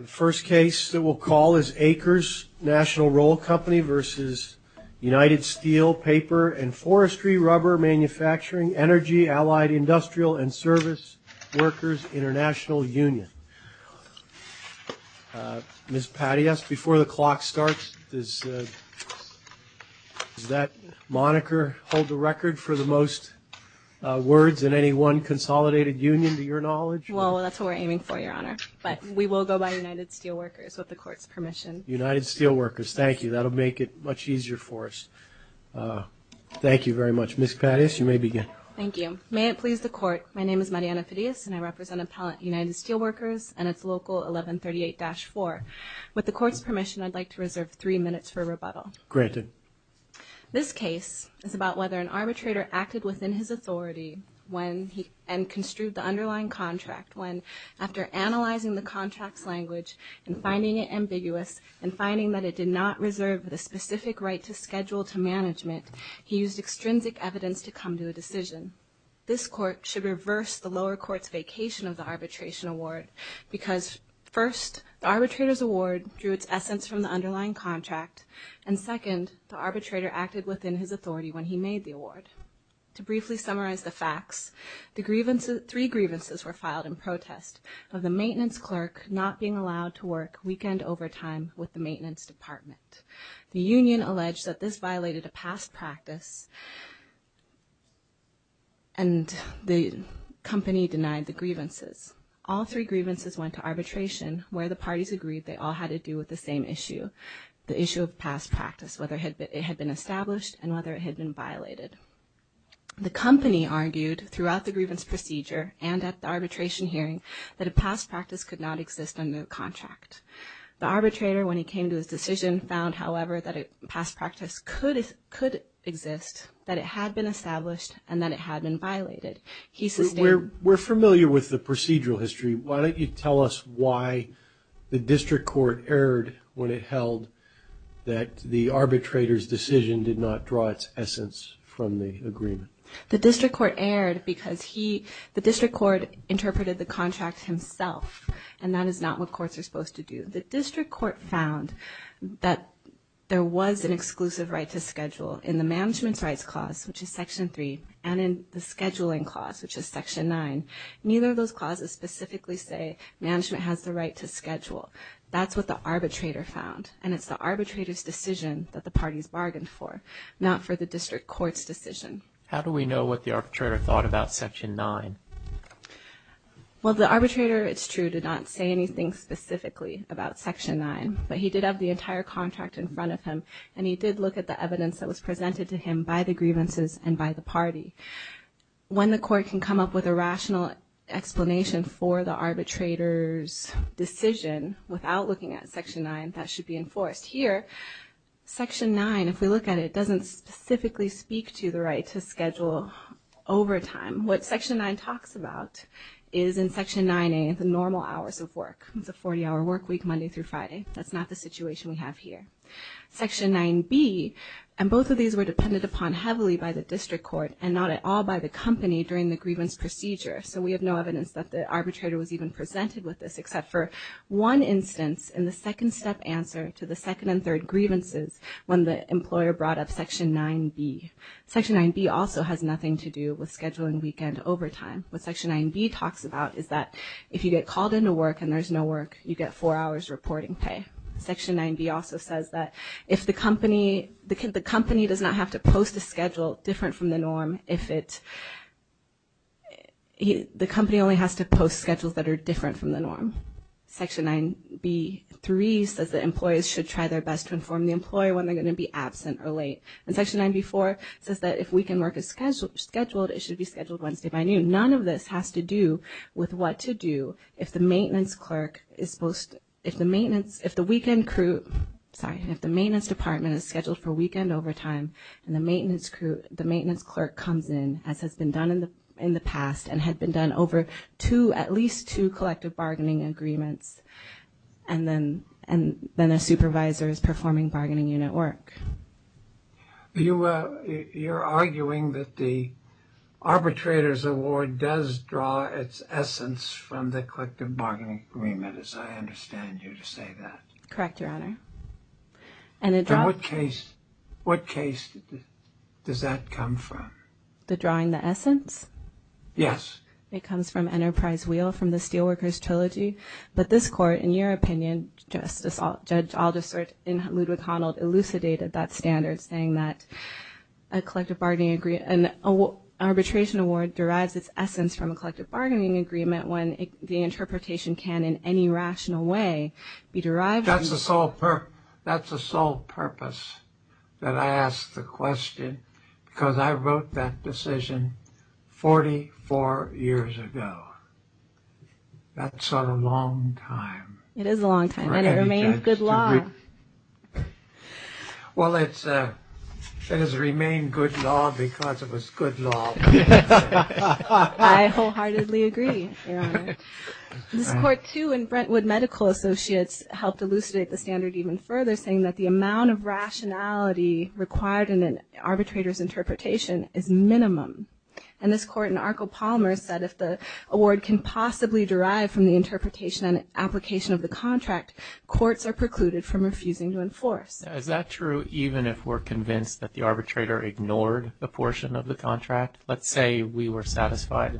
Paper and Forestry, Rubber Manufacturing, Energy, Allied Industrial, and Service Workers International Union. Ms. Patti, before the clock starts, does that moniker hold the record for the most words in any one consolidated union, to your knowledge? Well, that's what we're aiming for, Your Honor. But we will go by the name of the United Steel Workers, with the Court's permission. United Steel Workers. Thank you. That'll make it much easier for us. Thank you very much. Ms. Patti, you may begin. Thank you. May it please the Court, my name is Mariana Fideas, and I represent Appellant United Steel Workers and its local 1138-4. With the Court's permission, I'd like to reserve three minutes for rebuttal. Granted. This case is about whether an arbitrator acted within his authority and construed the underlying contract when, after analyzing the contract's language and finding it ambiguous and finding that it did not reserve the specific right to schedule to management, he used extrinsic evidence to come to a decision. This Court should reverse the lower court's vacation of the arbitration award because, first, the arbitrator's award drew its essence from the underlying contract, and second, the arbitrator acted within his authority when he made the protest of the maintenance clerk not being allowed to work weekend overtime with the maintenance department. The union alleged that this violated a past practice, and the company denied the grievances. All three grievances went to arbitration, where the parties agreed they all had to do with the same issue, the issue of past practice, whether it had been established and whether it had been violated. The company argued, throughout the grievance procedure and at the arbitration hearing, that a past practice could not exist under the contract. The arbitrator, when he came to his decision, found, however, that a past practice could exist, that it had been established, and that it had been violated. We're familiar with the procedural history. Why don't you tell us why the district court erred when it held that the arbitrator's decision did not draw its essence from the agreement? The district court erred because the district court interpreted the contract himself, and that is not what courts are supposed to do. The district court found that there was an exclusive right to schedule in the management's rights clause, which is Section 3, and in the scheduling clause, which is Section 9. Neither of those clauses specifically say That's what the arbitrator found, and it's the arbitrator's decision that the parties bargained for, not for the district court's decision. How do we know what the arbitrator thought about Section 9? Well, the arbitrator, it's true, did not say anything specifically about Section 9, but he did have the entire contract in front of him, and he did look at the evidence that was presented to him by the grievances and by the party. When the court can come up with a rational explanation for the arbitrator's decision without looking at Section 9, that should be enforced. Here, Section 9, if we look at it, doesn't specifically speak to the right to schedule overtime. What Section 9 talks about is in Section 9A, the normal hours of work. It's a 40-hour work week Monday through Friday. That's not the situation we have here. Section 9B, and both of these were dependent upon heavily by the district court and not at all by the company during the grievance procedure. So we have no evidence that the arbitrator was even presented with this except for one instance in the second step answer to the second and third grievances when the employer brought up Section 9B. Section 9B also has nothing to do with scheduling weekend overtime. What Section 9B talks about is that if you get called into work and there's no work, you get four hours reporting pay. Section 9B also says that if the company, the company does not have to post a schedule different from the norm if it, the company only has to post schedules that are different from the norm. Section 9B-3 says that employees should try their best to inform the employer when they're going to be absent or late. And Section 9B-4 says that if weekend work is scheduled, it should be scheduled Wednesday by noon. None of this has to do with what to do if the maintenance clerk is supposed to, if the maintenance, if the weekend crew, sorry, if the maintenance department is scheduled for weekend overtime and the maintenance crew, the maintenance clerk comes in as has been done in the past and had been done over two, at least two collective bargaining agreements. And then a supervisor is performing bargaining unit work. You, you're arguing that the arbitrator's award does draw its essence from the collective bargaining agreement, as I understand you to say that. Correct, Your Honor. And in what case, what case does that come from? The drawing the essence? Yes. It comes from Enterprise Wheel from the Steelworkers Trilogy. But this court, in your opinion, Judge Alderson and Ludwig Honnold, elucidated that standard saying that a collective bargaining agreement, an arbitration award derives its essence from a collective bargaining agreement when the interpretation can in any rational way be derived. That's the sole purpose that I asked the question because I wrote that decision 44 years ago. That's a long time. It is a long time and it remains good law. Well, it has remained good law because it was good law. I wholeheartedly agree, Your Honor. This court too in Brentwood Medical Associates helped elucidate the standard even further saying that the amount of rationality required in an arbitrator's interpretation is minimum. And this court in Arco Palmers said if the award can possibly derive from the interpretation and application of the contract, courts are precluded from refusing to enforce. Is that true even if we're convinced that the arbitrator ignored a portion of the contract? Let's say we were satisfied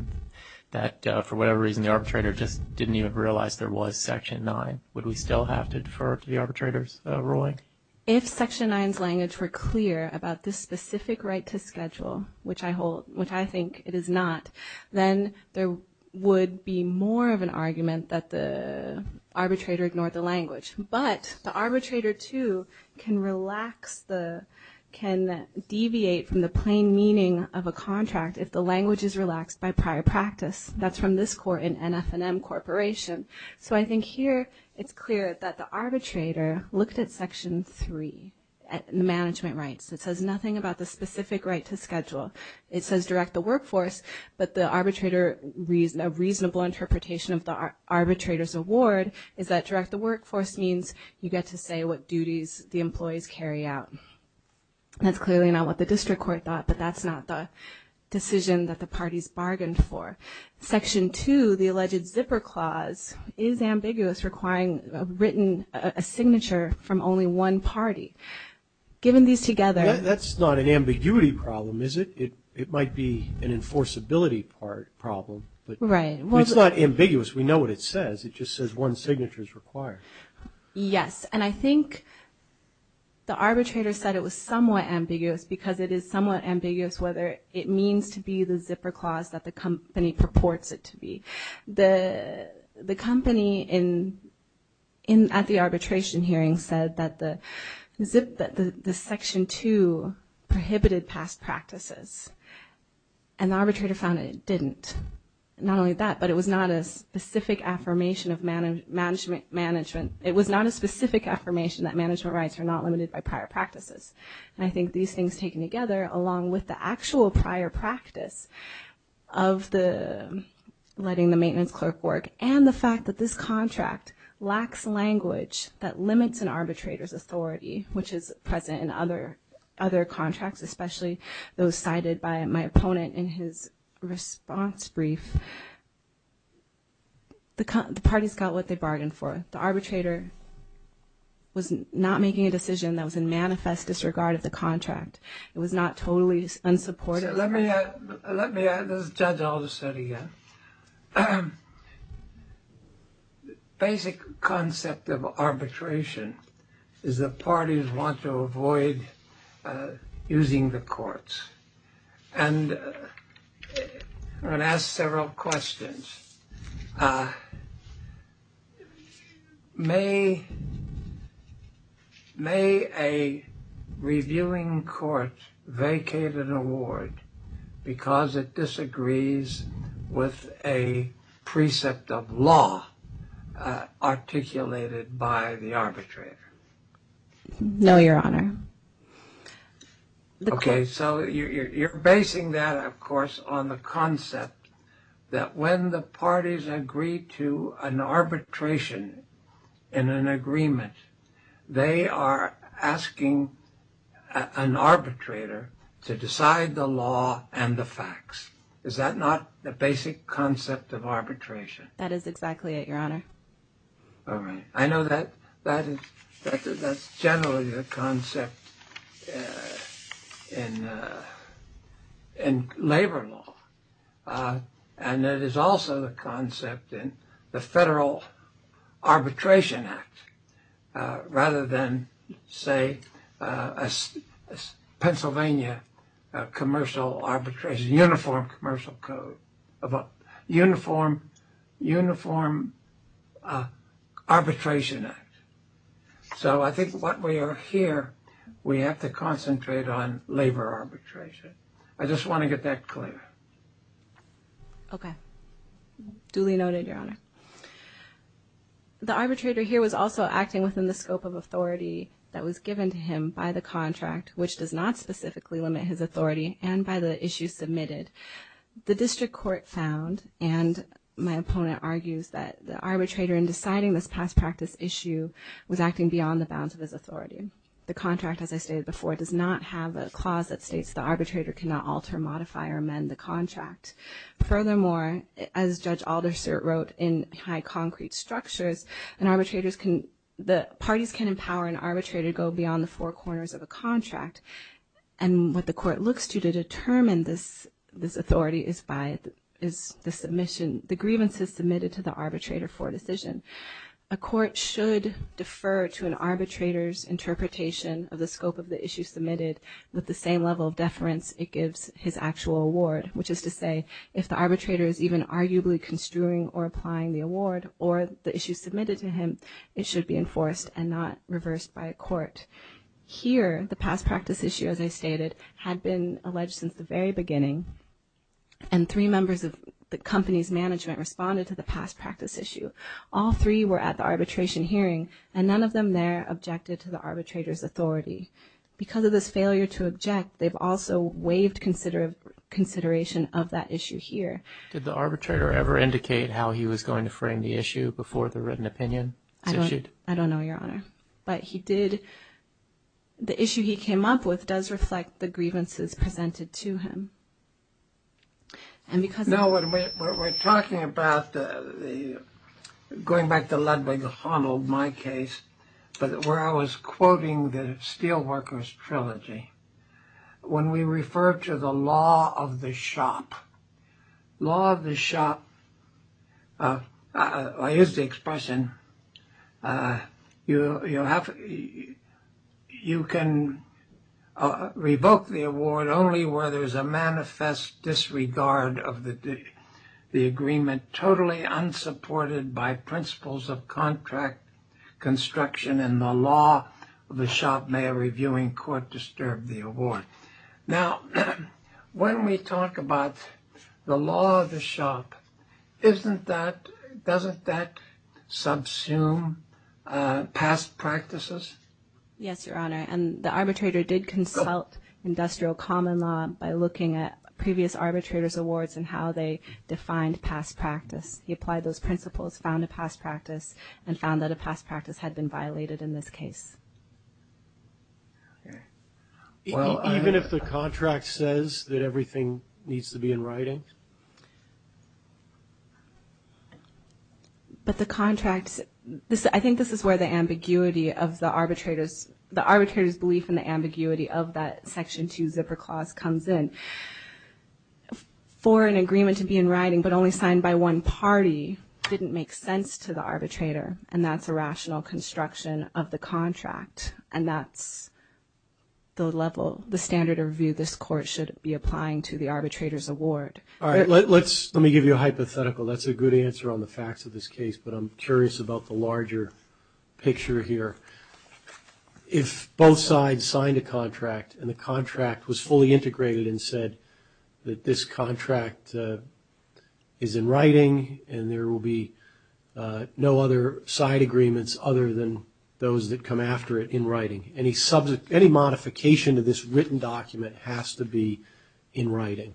that for whatever reason the arbitrator just didn't even realize there was Section 9. Would we still have to defer to the arbitrator's ruling? If Section 9's language were clear about this specific right to schedule, which I think it is not, then there would be more of an argument that the arbitrator ignored the language. But the arbitrator too can relax the, can deviate from the plain meaning of a contract if the language is relaxed by prior practice. That's from this court in NF&M Corporation. So I think here it's clear that the arbitrator looked at Section 3, the management rights. It says nothing about the specific right to schedule. It says direct the workforce, but the arbitrator, a reasonable interpretation of the arbitrator's award is that direct the workforce means you get to say what duties the employees carry out. That's clearly not what the district court thought, but that's not the decision that the parties bargained for. Section 2, the alleged zipper clause, is ambiguous, requiring a written signature from only one party. Given these together. That's not an ambiguity problem, is it? It might be an enforceability problem. Right. It's not ambiguous. We know what it says. It just says one signature is required. Yes. And I think the arbitrator said it was somewhat ambiguous because it is somewhat ambiguous whether it means to be the zipper clause that the company purports it to be. The company at the arbitration hearing said that the Section 2 prohibited past practices. And the arbitrator found it didn't. Not only that, but it was not a specific affirmation of management. It was not a specific affirmation that management rights are not limited by prior practices. And I think these things taken together, along with the actual prior practice of the letting the maintenance clerk work and the fact that this contract lacks language that limits an arbitrator's authority, which is present in other contracts, especially those cited by my opponent in his response brief, the parties got what they bargained for. The arbitrator was not making a decision that was in manifest disregard of the contract. It was not totally unsupportive. Let me add this. Judge, I'll just say it again. The basic concept of arbitration is the parties want to avoid using the courts. And I'm going to ask several questions. May a reviewing court vacate an award because it disagrees with a precept of law articulated by the arbitrator? No, Your Honor. Okay, so you're basing that, of course, on the concept that when the parties agree to an arbitration in an agreement, they are asking an arbitrator to decide the law and the facts. Is that not the basic concept of arbitration? That is exactly it, Your Honor. I know that's generally the concept in labor law. And it is also the concept in the Federal Arbitration Act, rather than, say, Pennsylvania commercial arbitration, which is a uniform commercial code, a uniform arbitration act. So I think what we are here, we have to concentrate on labor arbitration. I just want to get that clear. Okay. Duly noted, Your Honor. The arbitrator here was also acting within the scope of authority that was given to him by the contract, which does not specifically limit his authority, and by the issues submitted. The district court found, and my opponent argues, that the arbitrator in deciding this past practice issue was acting beyond the bounds of his authority. The contract, as I stated before, does not have a clause that states the arbitrator cannot alter, modify, or amend the contract. Furthermore, as Judge Aldersert wrote in High Concrete Structures, the parties can empower an arbitrator to go beyond the four corners of a contract. And what the court looks to to determine this authority is the submission, the grievances submitted to the arbitrator for a decision. A court should defer to an arbitrator's interpretation of the scope of the issues submitted with the same level of deference it gives his actual award, which is to say, if the arbitrator is even arguably construing or applying the award, or the issues submitted to him, it should be enforced and not reversed by a court. Here, the past practice issue, as I stated, had been alleged since the very beginning, and three members of the company's management responded to the past practice issue. All three were at the arbitration hearing, and none of them there objected to the arbitrator's authority. Because of this failure to object, they've also waived consideration of that issue here. Did the arbitrator ever indicate how he was going to frame the issue before the written opinion was issued? I don't know, Your Honor. But he did. The issue he came up with does reflect the grievances presented to him. Now, when we're talking about going back to Ludwig Honnold, my case, where I was quoting the Steelworkers Trilogy, when we refer to the law of the shop, law of the shop is the expression, you can revoke the award only where there's a manifest disregard of the agreement totally unsupported by principles of contract construction and the law of the shop may a reviewing court disturb the award. Now, when we talk about the law of the shop, doesn't that subsume past practices? Yes, Your Honor. And the arbitrator did consult industrial common law by looking at previous arbitrators' awards and how they defined past practice. He applied those principles, found a past practice, and found that a past practice had been violated in this case. Even if the contract says that everything needs to be in writing? But the contract, I think this is where the ambiguity of the arbitrator's belief and the ambiguity of that Section 2 zipper clause comes in. For an agreement to be in writing but only signed by one party didn't make sense to the arbitrator and that's a rational construction of the contract and that's the level, the standard of review this court should be applying to the arbitrator's award. All right, let me give you a hypothetical. That's a good answer on the facts of this case, but I'm curious about the larger picture here. If both sides signed a contract and the contract was fully integrated and said that this contract is in writing and there will be no other side agreements other than those that come after it in writing, any modification to this written document has to be in writing.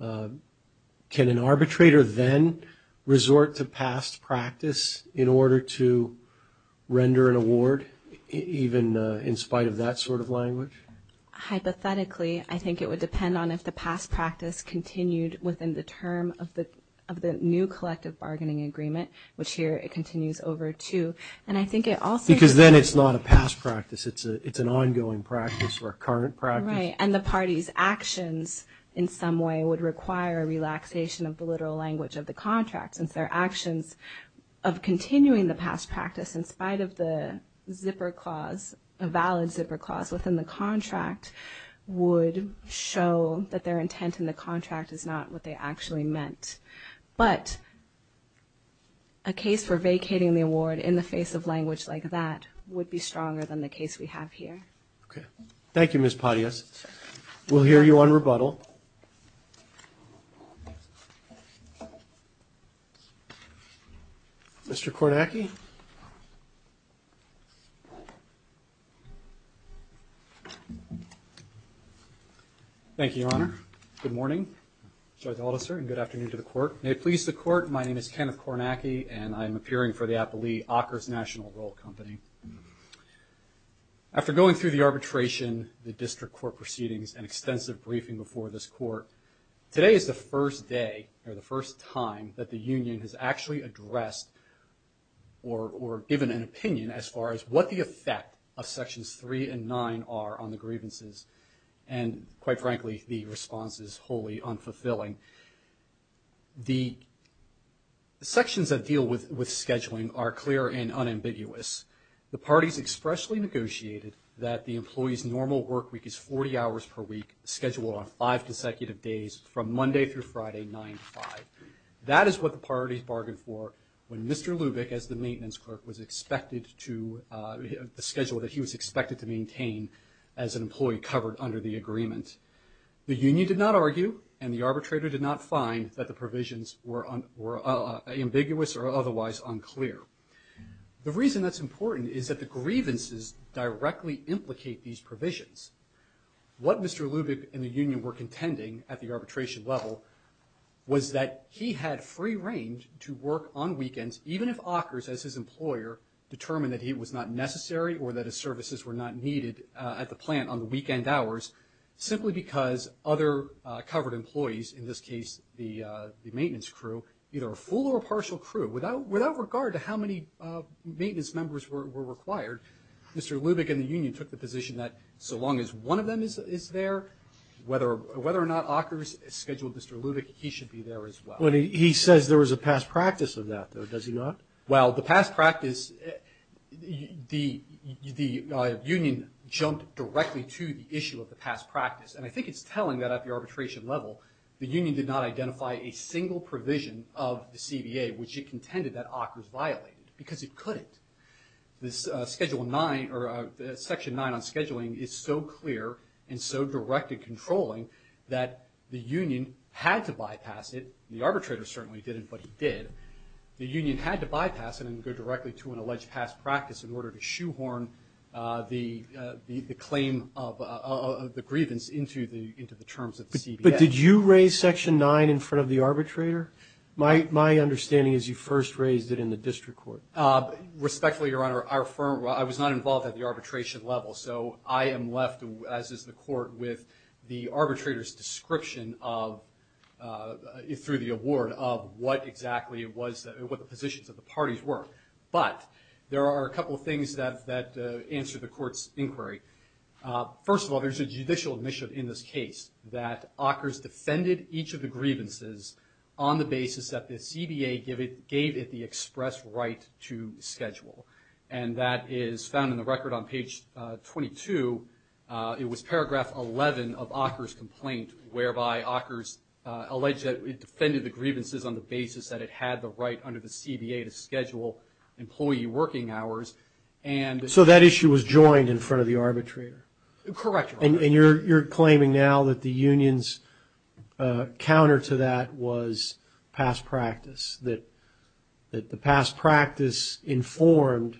Can an arbitrator then resort to past practice in order to render an award, even in spite of that sort of language? Hypothetically, I think it would depend on if the past practice continued within the term of the new collective bargaining agreement, which here it continues over to. Because then it's not a past practice, it's an ongoing practice or a current practice. Right, and the party's actions in some way would require relaxation of the literal language of the contract since their actions of continuing the past practice in spite of the zipper clause, a valid zipper clause within the contract would show that their intent in the contract is not what they actually meant. But a case for vacating the award in the face of language like that would be stronger than the case we have here. Okay. Thank you, Ms. Patias. We'll hear you on rebuttal. Mr. Kordacki? Thank you, Your Honor. Good morning. Sorry to hold us, sir, and good afternoon to the court. May it please the court, my name is Kenneth Kordacki, and I'm appearing for the Applee-Ockers National Role Company. After going through the arbitration, the district court proceedings, and extensive briefing before this court, today is the first day or the first time that the union has actually addressed or given an opinion as far as what the effect of Sections 3 and 9 are on the grievances, and quite frankly, the response is wholly unfulfilling. The sections that deal with scheduling are clear and unambiguous. The parties expressly negotiated that the employee's normal work week is 40 hours per week, scheduled on five consecutive days from Monday through Friday, 9 to 5. That is what the parties bargained for when Mr. Lubick, as the maintenance clerk, the schedule that he was expected to maintain as an employee covered under the agreement. The union did not argue, and the arbitrator did not find that the provisions were ambiguous or otherwise unclear. The reason that's important is that the grievances directly implicate these provisions. What Mr. Lubick and the union were contending at the arbitration level was that he had free range to work on weekends, even if Ockers, as his employer, determined that he was not necessary or that his services were not needed at the plant on the weekend hours, simply because other covered employees, in this case the maintenance crew, either a full or a partial crew, without regard to how many maintenance members were required, Mr. Lubick and the union took the position that so long as one of them is there, whether or not Ockers scheduled Mr. Lubick, he should be there as well. He says there was a past practice of that, though, does he not? Well, the past practice, the union jumped directly to the issue of the past practice, and I think it's telling that at the arbitration level the union did not identify a single provision of the CBA which it contended that Ockers violated, because it couldn't. Section 9 on scheduling is so clear and so direct in controlling that the union had to bypass it, the arbitrator certainly didn't, but he did, the union had to bypass it and go directly to an alleged past practice in order to shoehorn the claim of the grievance into the terms of the CBA. But did you raise Section 9 in front of the arbitrator? My understanding is you first raised it in the district court. Respectfully, Your Honor, I was not involved at the arbitration level, so I am left, as is the court, with the arbitrator's description through the award of what exactly the positions of the parties were. But there are a couple of things that answer the court's inquiry. First of all, there's a judicial admission in this case that Ockers defended each of the grievances on the basis that the CBA gave it the express right to schedule, and that is found in the record on page 22. It was paragraph 11 of Ockers' complaint, whereby Ockers alleged that it defended the grievances on the basis that it had the right under the CBA to schedule employee working hours. So that issue was joined in front of the arbitrator? Correct, Your Honor. And you're claiming now that the union's counter to that was past practice, that the past practice informed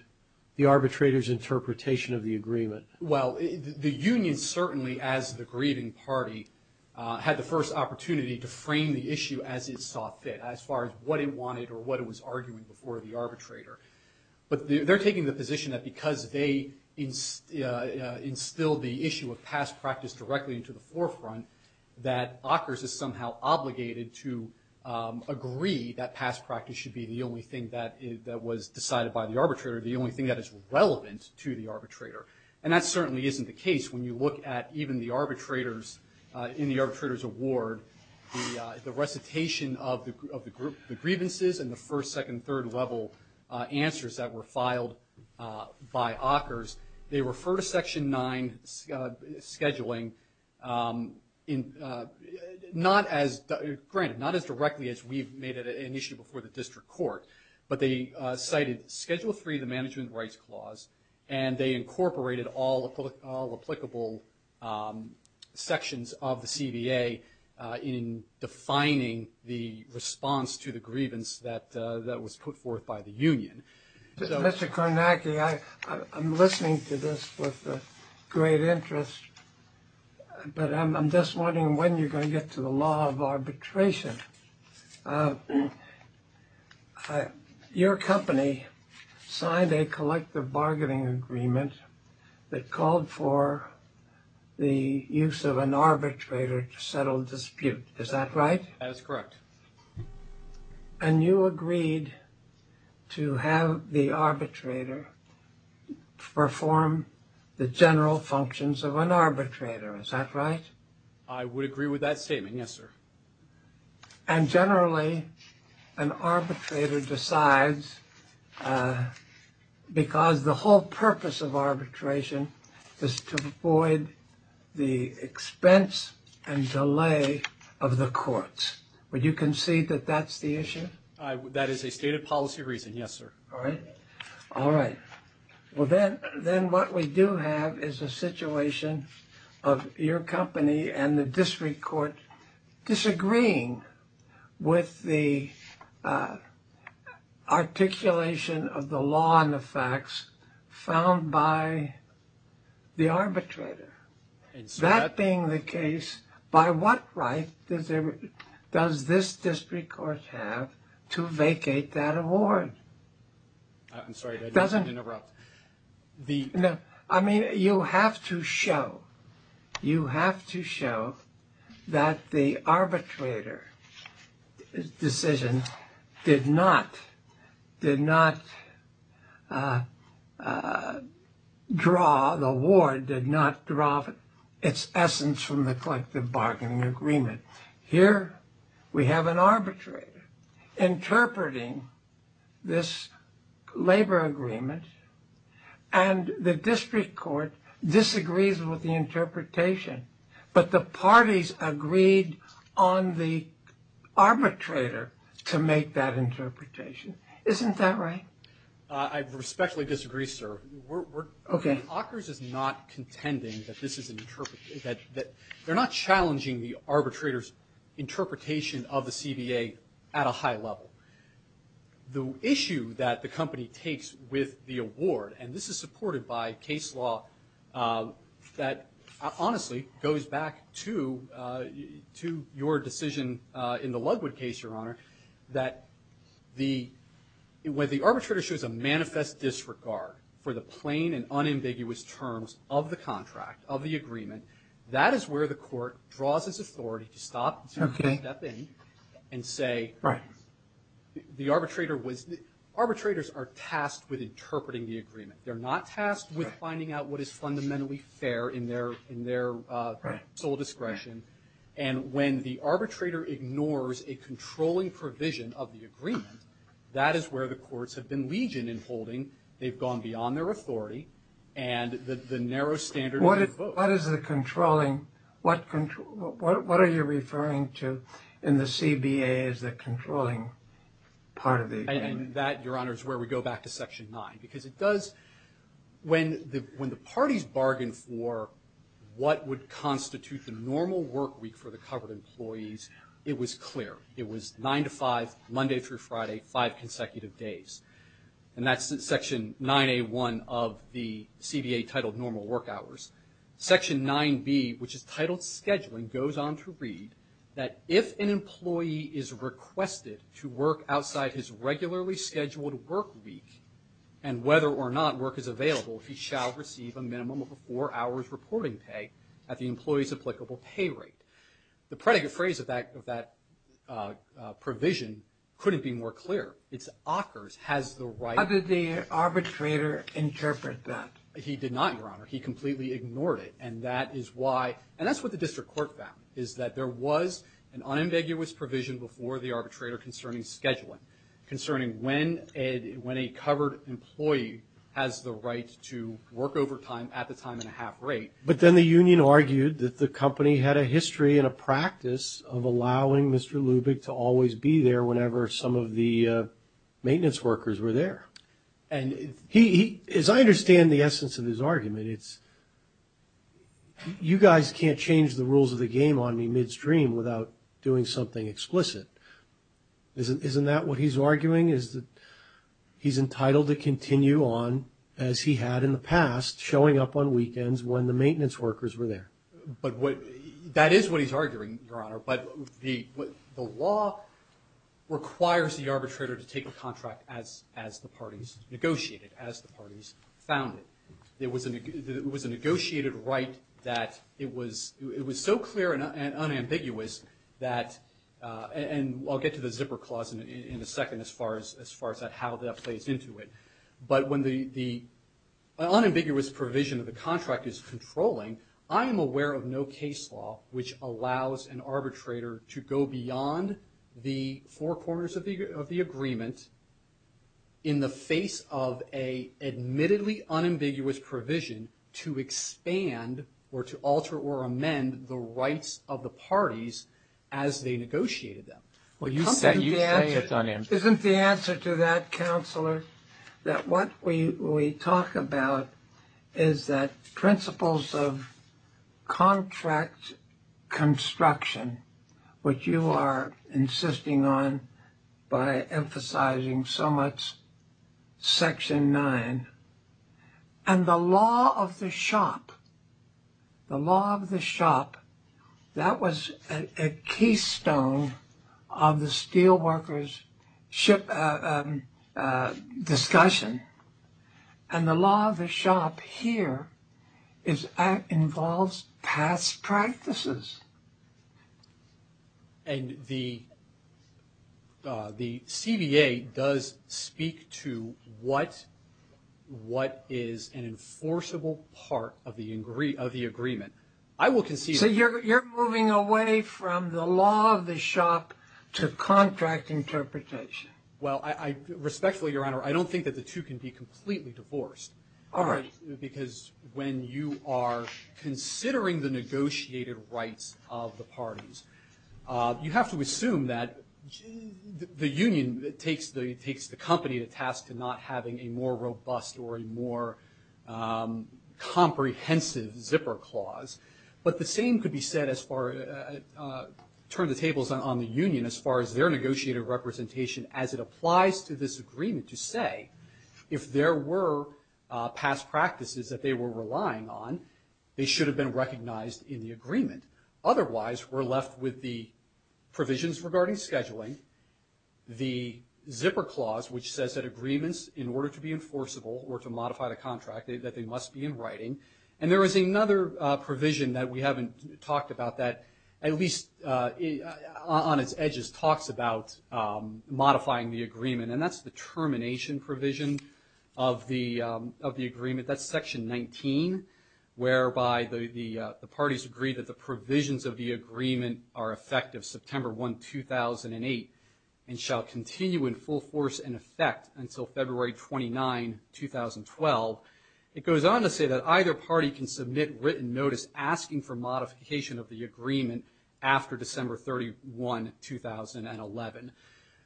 the arbitrator's interpretation of the agreement? Well, the union certainly, as the grieving party, had the first opportunity to frame the issue as it saw fit, as far as what it wanted or what it was arguing before the arbitrator. But they're taking the position that because they instilled the issue of past practice directly into the forefront, that Ockers is somehow obligated to agree that past practice should be the only thing that was decided by the arbitrator, the only thing that is relevant to the arbitrator. And that certainly isn't the case when you look at even the arbitrator's, in the arbitrator's award, the recitation of the grievances and the first, second, third level answers that were filed by Ockers. They refer to Section 9 scheduling not as, granted, not as directly as we've made it an issue before the district court. But they cited Schedule 3, the Management Rights Clause, and they incorporated all applicable sections of the CBA in defining the response to the grievance that was put forth by the union. Mr. Kornacki, I'm listening to this with great interest, but I'm just wondering when you're going to get to the law of arbitration. Your company signed a collective bargaining agreement that called for the use of an arbitrator to settle dispute. Is that right? That is correct. And you agreed to have the arbitrator perform the general functions of an arbitrator. Is that right? I would agree with that statement. Yes, sir. And generally, an arbitrator decides because the whole purpose of arbitration is to avoid the expense and delay of the courts. Would you concede that that's the issue? That is a stated policy reason. Yes, sir. All right. All right. Well, then then what we do have is a situation of your company and the district court disagreeing with the articulation of the law and the facts found by the arbitrator. That being the case, by what right does this district court have to vacate that award? I'm sorry to interrupt. I mean, you have to show you have to show that the arbitrator decision did not did not draw the award, did not draw its essence from the collective bargaining agreement. Here we have an arbitrator interpreting this labor agreement and the district court disagrees with the interpretation. But the parties agreed on the arbitrator to make that interpretation. Isn't that right? I respectfully disagree, sir. We're OK. Hawkers is not contending that this is that they're not challenging the arbitrator's interpretation of the CBA at a high level. The issue that the company takes with the award, and this is supported by case law that honestly goes back to to your decision in the Ludwood case, Your Honor, that the when the arbitrator shows a manifest disregard for the plain and unambiguous terms of the contract of the agreement, that is where the court draws its authority to stop and step in and say, right? The arbitrator was arbitrators are tasked with interpreting the agreement. They're not tasked with finding out what is fundamentally fair in their in their sole discretion. And when the arbitrator ignores a controlling provision of the agreement, that is where the courts have been legion in holding. They've gone beyond their authority. And the narrow standard. What is the controlling? What control? What are you referring to in the CBA as the controlling part of it? And that, Your Honor, is where we go back to section nine, because it does. When the parties bargained for what would constitute the normal work week for the covered employees, it was clear. It was nine to five, Monday through Friday, five consecutive days. And that's section 9A1 of the CBA titled Normal Work Hours. Section 9B, which is titled Scheduling, goes on to read that if an employee is requested to work outside his regularly scheduled work week, and whether or not work is available, he shall receive a minimum of four hours reporting pay at the employee's applicable pay rate. The predicate phrase of that provision couldn't be more clear. It's occurs, has the right. How did the arbitrator interpret that? He did not, Your Honor. He completely ignored it. And that is why. And that's what the district court found, is that there was an unambiguous provision before the arbitrator concerning scheduling, concerning when a covered employee has the right to work overtime at the time and a half rate. But then the union argued that the company had a history and a practice of allowing Mr. Lubick to always be there whenever some of the maintenance workers were there. And he, as I understand the essence of his argument, it's, you guys can't change the rules of the game on me midstream without doing something explicit. Isn't that what he's arguing, is that he's entitled to continue on as he had in the past, showing up on weekends when the maintenance workers were there. But what, that is what he's arguing, Your Honor. But the law requires the arbitrator to take a contract as the parties negotiated, as the parties founded. It was a negotiated right that it was so clear and unambiguous that, and I'll get to the zipper clause in a second as far as how that plays into it. But when the unambiguous provision of the contract is controlling, I am aware of no case law which allows an arbitrator to go beyond the four corners of the agreement in the face of an admittedly unambiguous provision to expand or to alter or amend the rights of the parties as they negotiated them. Well, you say it's unambiguous. Isn't the answer to that, Counselor, that what we talk about is that principles of contract construction, which you are insisting on by emphasizing so much Section 9, and the law of the shop, the law of the shop, that was a keystone of the steelworkers' discussion. And the law of the shop here involves past practices. And the CDA does speak to what is an enforceable part of the agreement. I will concede that. So you're moving away from the law of the shop to contract interpretation. Well, respectfully, Your Honor, I don't think that the two can be completely divorced. All right. Because when you are considering the negotiated rights of the parties, you have to assume that the union takes the company to task to not having a more robust or a more comprehensive zipper clause. But the same could be said as far as turn the tables on the union as far as their negotiated representation as it applies to this agreement to say, if there were past practices that they were relying on, they should have been recognized in the agreement. Otherwise, we're left with the provisions regarding scheduling, the zipper clause, which says that agreements, in order to be enforceable or to modify the contract, that they must be in writing. And there is another provision that we haven't talked about that, at least on its edges, talks about modifying the agreement. And that's the termination provision of the agreement. That's Section 19, whereby the parties agree that the provisions of the agreement are effective September 1, 2008, and shall continue in full force and effect until February 29, 2012. It goes on to say that either party can submit written notice asking for modification of the agreement after December 31, 2011.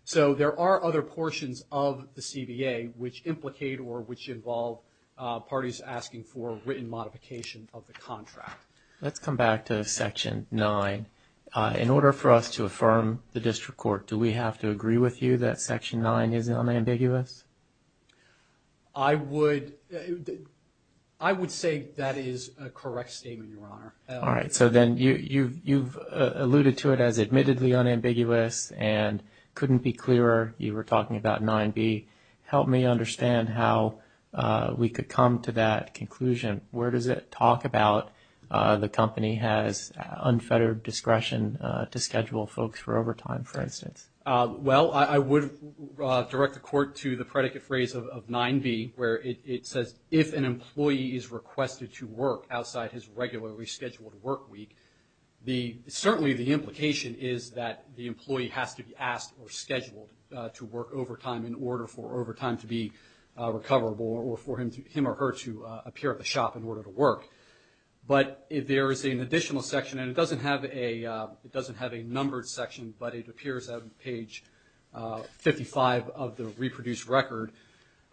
So there are other portions of the CBA which implicate or which involve parties asking for written modification of the contract. Let's come back to Section 9. In order for us to affirm the district court, do we have to agree with you that Section 9 is unambiguous? I would say that is a correct statement, Your Honor. All right. So then you've alluded to it as admittedly unambiguous and couldn't be clearer. You were talking about 9b. Help me understand how we could come to that conclusion. Where does it talk about the company has unfettered discretion to schedule folks for overtime, for instance? Well, I would direct the Court to the predicate phrase of 9b, where it says, if an employee is requested to work outside his regularly scheduled work week, certainly the implication is that the employee has to be asked or scheduled to work overtime in order for overtime to be recoverable or for him or her to appear at the shop in order to work. But there is an additional section, and it doesn't have a numbered section, but it appears on page 55 of the reproduced record,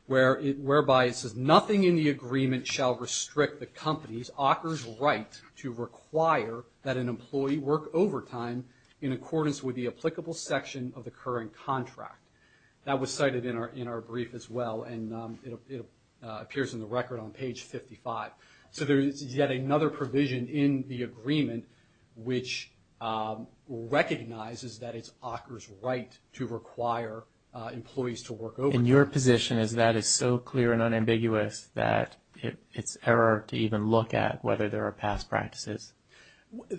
whereby it says nothing in the agreement shall restrict the company's author's right to require that an employee work overtime in accordance with the applicable section of the current contract. That was cited in our brief as well, and it appears in the record on page 55. So there is yet another provision in the agreement which recognizes that it's author's right to require employees to work overtime. And your position is that is so clear and unambiguous that it's error to even look at whether there are past practices.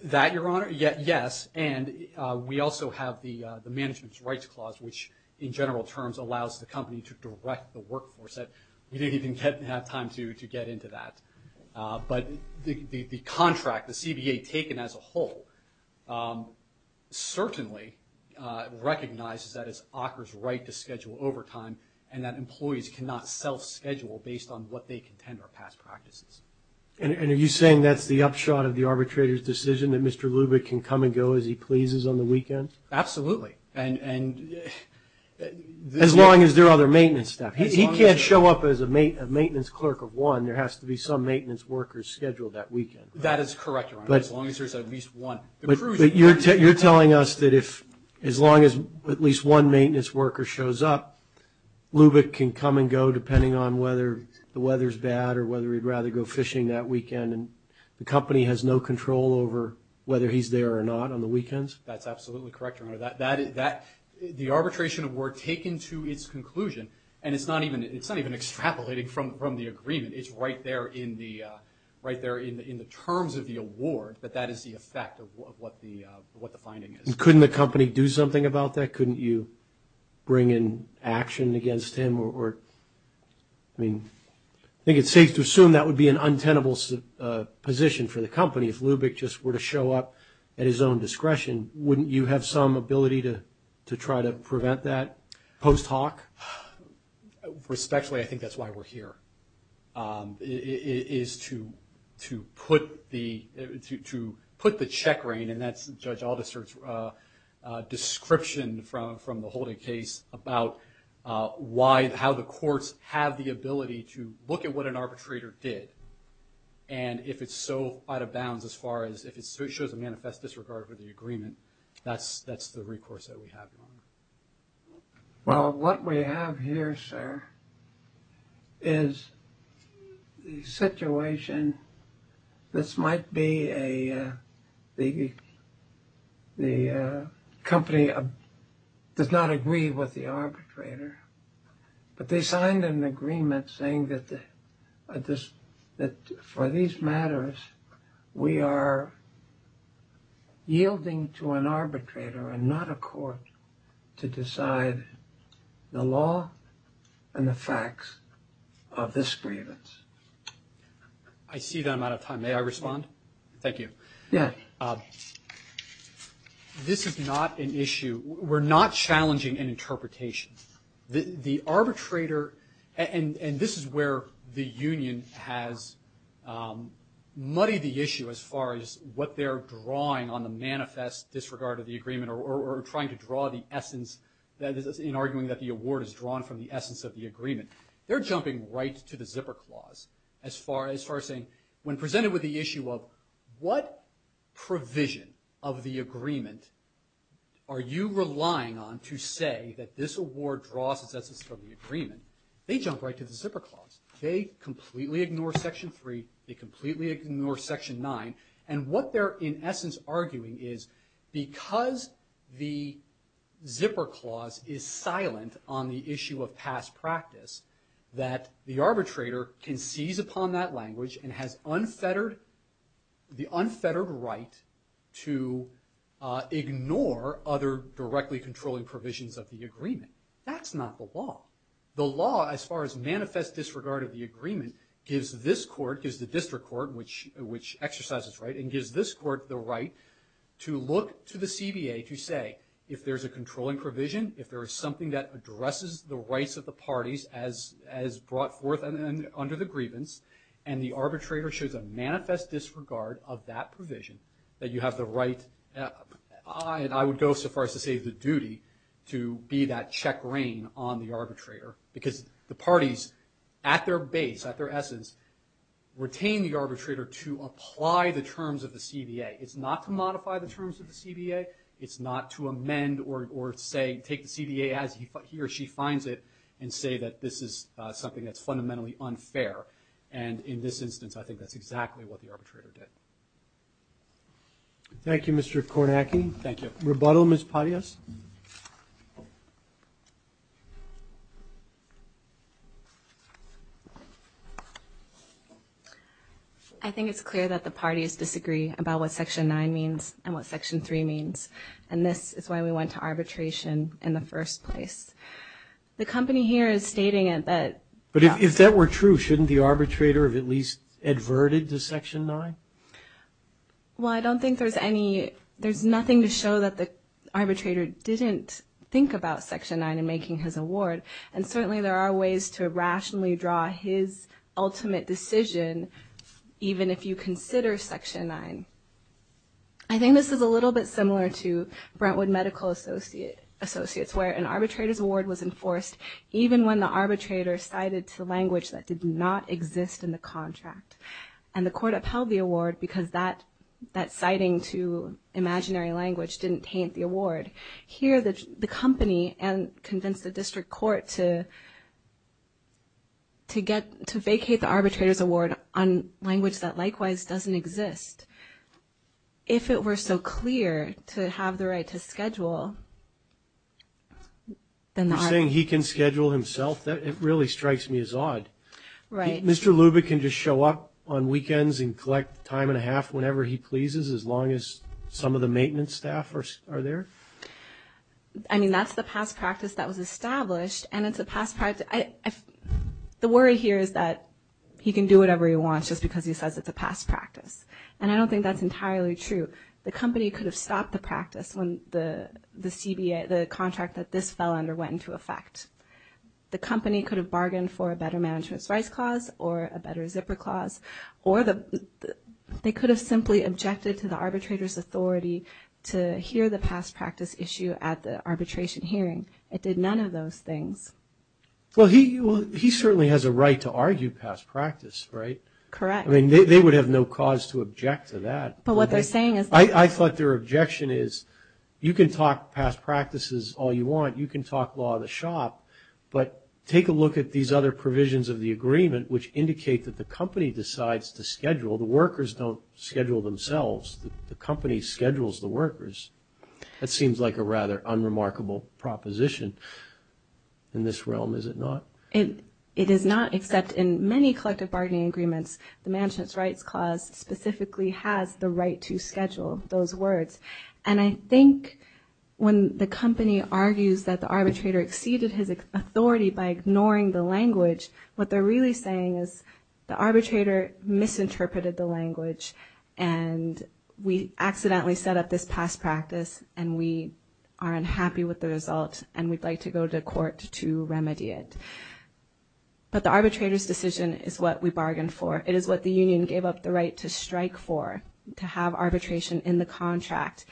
That, Your Honor, yes. And we also have the management's rights clause, which in general terms allows the company to direct the workforce. We didn't even have time to get into that. But the contract, the CBA taken as a whole, certainly recognizes that it's author's right to schedule overtime and that employees cannot self-schedule based on what they contend are past practices. And are you saying that's the upshot of the arbitrator's decision, that Mr. Lubick can come and go as he pleases on the weekend? Absolutely. Absolutely. As long as there are other maintenance staff. He can't show up as a maintenance clerk of one. There has to be some maintenance workers scheduled that weekend. That is correct, Your Honor, as long as there's at least one. But you're telling us that as long as at least one maintenance worker shows up, Lubick can come and go depending on whether the weather's bad or whether he'd rather go fishing that weekend and the company has no control over whether he's there or not on the weekends? That's absolutely correct, Your Honor. The arbitration were taken to its conclusion, and it's not even extrapolating from the agreement. It's right there in the terms of the award that that is the effect of what the finding is. Couldn't the company do something about that? Couldn't you bring in action against him? I think it's safe to assume that would be an untenable position for the company if Lubick just were to show up at his own discretion. Wouldn't you have some ability to try to prevent that post hoc? Respectfully, I think that's why we're here, is to put the check rein, and that's Judge Aldister's description from the holding case, about how the courts have the ability to look at what an arbitrator did. And if it's so out of bounds as far as if it shows a manifest disregard for the agreement, that's the recourse that we have, Your Honor. Well, what we have here, sir, is the situation. This might be the company does not agree with the arbitrator, but they signed an agreement saying that for these matters, we are yielding to an arbitrator and not a court to decide the law and the facts of this grievance. I see that I'm out of time. May I respond? Thank you. Yeah. This is not an issue. We're not challenging an interpretation. The arbitrator, and this is where the union has muddied the issue as far as what they're drawing on the manifest disregard of the agreement or trying to draw the essence in arguing that the award is drawn from the essence of the agreement. They're jumping right to the zipper clause as far as saying, when presented with the issue of what provision of the agreement are you relying on to say that this award draws its essence from the agreement, they jump right to the zipper clause. They completely ignore Section 3. They completely ignore Section 9. And what they're in essence arguing is because the zipper clause is silent on the issue of past practice, that the arbitrator can seize upon that language and has the unfettered right to ignore other directly controlling provisions of the agreement. That's not the law. The law as far as manifest disregard of the agreement gives this court, gives the district court, which exercises right and gives this court the right to look to the CBA to say, if there's a controlling provision, if there is something that addresses the rights of the parties as brought forth under the grievance and the arbitrator shows a manifest disregard of that provision, that you have the right, I would go so far as to say the duty to be that check reign on the arbitrator because the parties at their base, at their essence, retain the arbitrator to apply the terms of the CBA. It's not to modify the terms of the CBA. It's not to amend or say take the CBA as he or she finds it and say that this is something that's fundamentally unfair. And in this instance, I think that's exactly what the arbitrator did. Thank you, Mr. Kornacki. Thank you. Rebuttal, Ms. Patias. Ms. Patias. I think it's clear that the parties disagree about what Section 9 means and what Section 3 means, and this is why we went to arbitration in the first place. The company here is stating that the – But if that were true, shouldn't the arbitrator have at least adverted to Section 9? Well, I don't think there's any – there's nothing to show that the arbitrator didn't think about Section 9 in making his award, and certainly there are ways to rationally draw his ultimate decision, even if you consider Section 9. I think this is a little bit similar to Brentwood Medical Associates, where an arbitrator's award was enforced even when the arbitrator cited language that did not exist in the contract. And the court upheld the award because that citing to imaginary language didn't taint the award. Here, the company convinced the district court to get – to vacate the arbitrator's award on language that likewise doesn't exist. If it were so clear to have the right to schedule, then the – You're saying he can schedule himself? It really strikes me as odd. Right. Mr. Lubick can just show up on weekends and collect time and a half whenever he pleases, as long as some of the maintenance staff are there? I mean, that's the past practice that was established, and it's a past practice – The worry here is that he can do whatever he wants just because he says it's a past practice. And I don't think that's entirely true. The company could have stopped the practice when the CBA – the contract that this fell under went into effect. The company could have bargained for a better management's rights clause or a better zipper clause, or they could have simply objected to the arbitrator's authority to hear the past practice issue at the arbitration hearing. It did none of those things. Well, he certainly has a right to argue past practice, right? Correct. I mean, they would have no cause to object to that. But what they're saying is – I thought their objection is you can talk past practices all you want, you can talk law of the shop, but take a look at these other provisions of the agreement, which indicate that the company decides to schedule. The workers don't schedule themselves. The company schedules the workers. That seems like a rather unremarkable proposition in this realm, is it not? It is not, except in many collective bargaining agreements, the management's rights clause specifically has the right to schedule those words. And I think when the company argues that the arbitrator exceeded his authority by ignoring the language, what they're really saying is the arbitrator misinterpreted the language and we accidentally set up this past practice and we are unhappy with the result and we'd like to go to court to remedy it. But the arbitrator's decision is what we bargained for. It is what the union gave up the right to strike for, to have arbitration in the contract.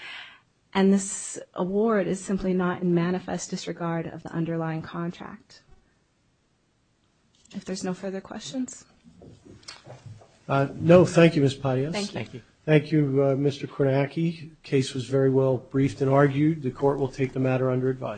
And this award is simply not in manifest disregard of the underlying contract. If there's no further questions. No, thank you, Ms. Patias. Thank you. Thank you, Mr. Kornacki. The case was very well briefed and argued. The court will take the matter under advisory.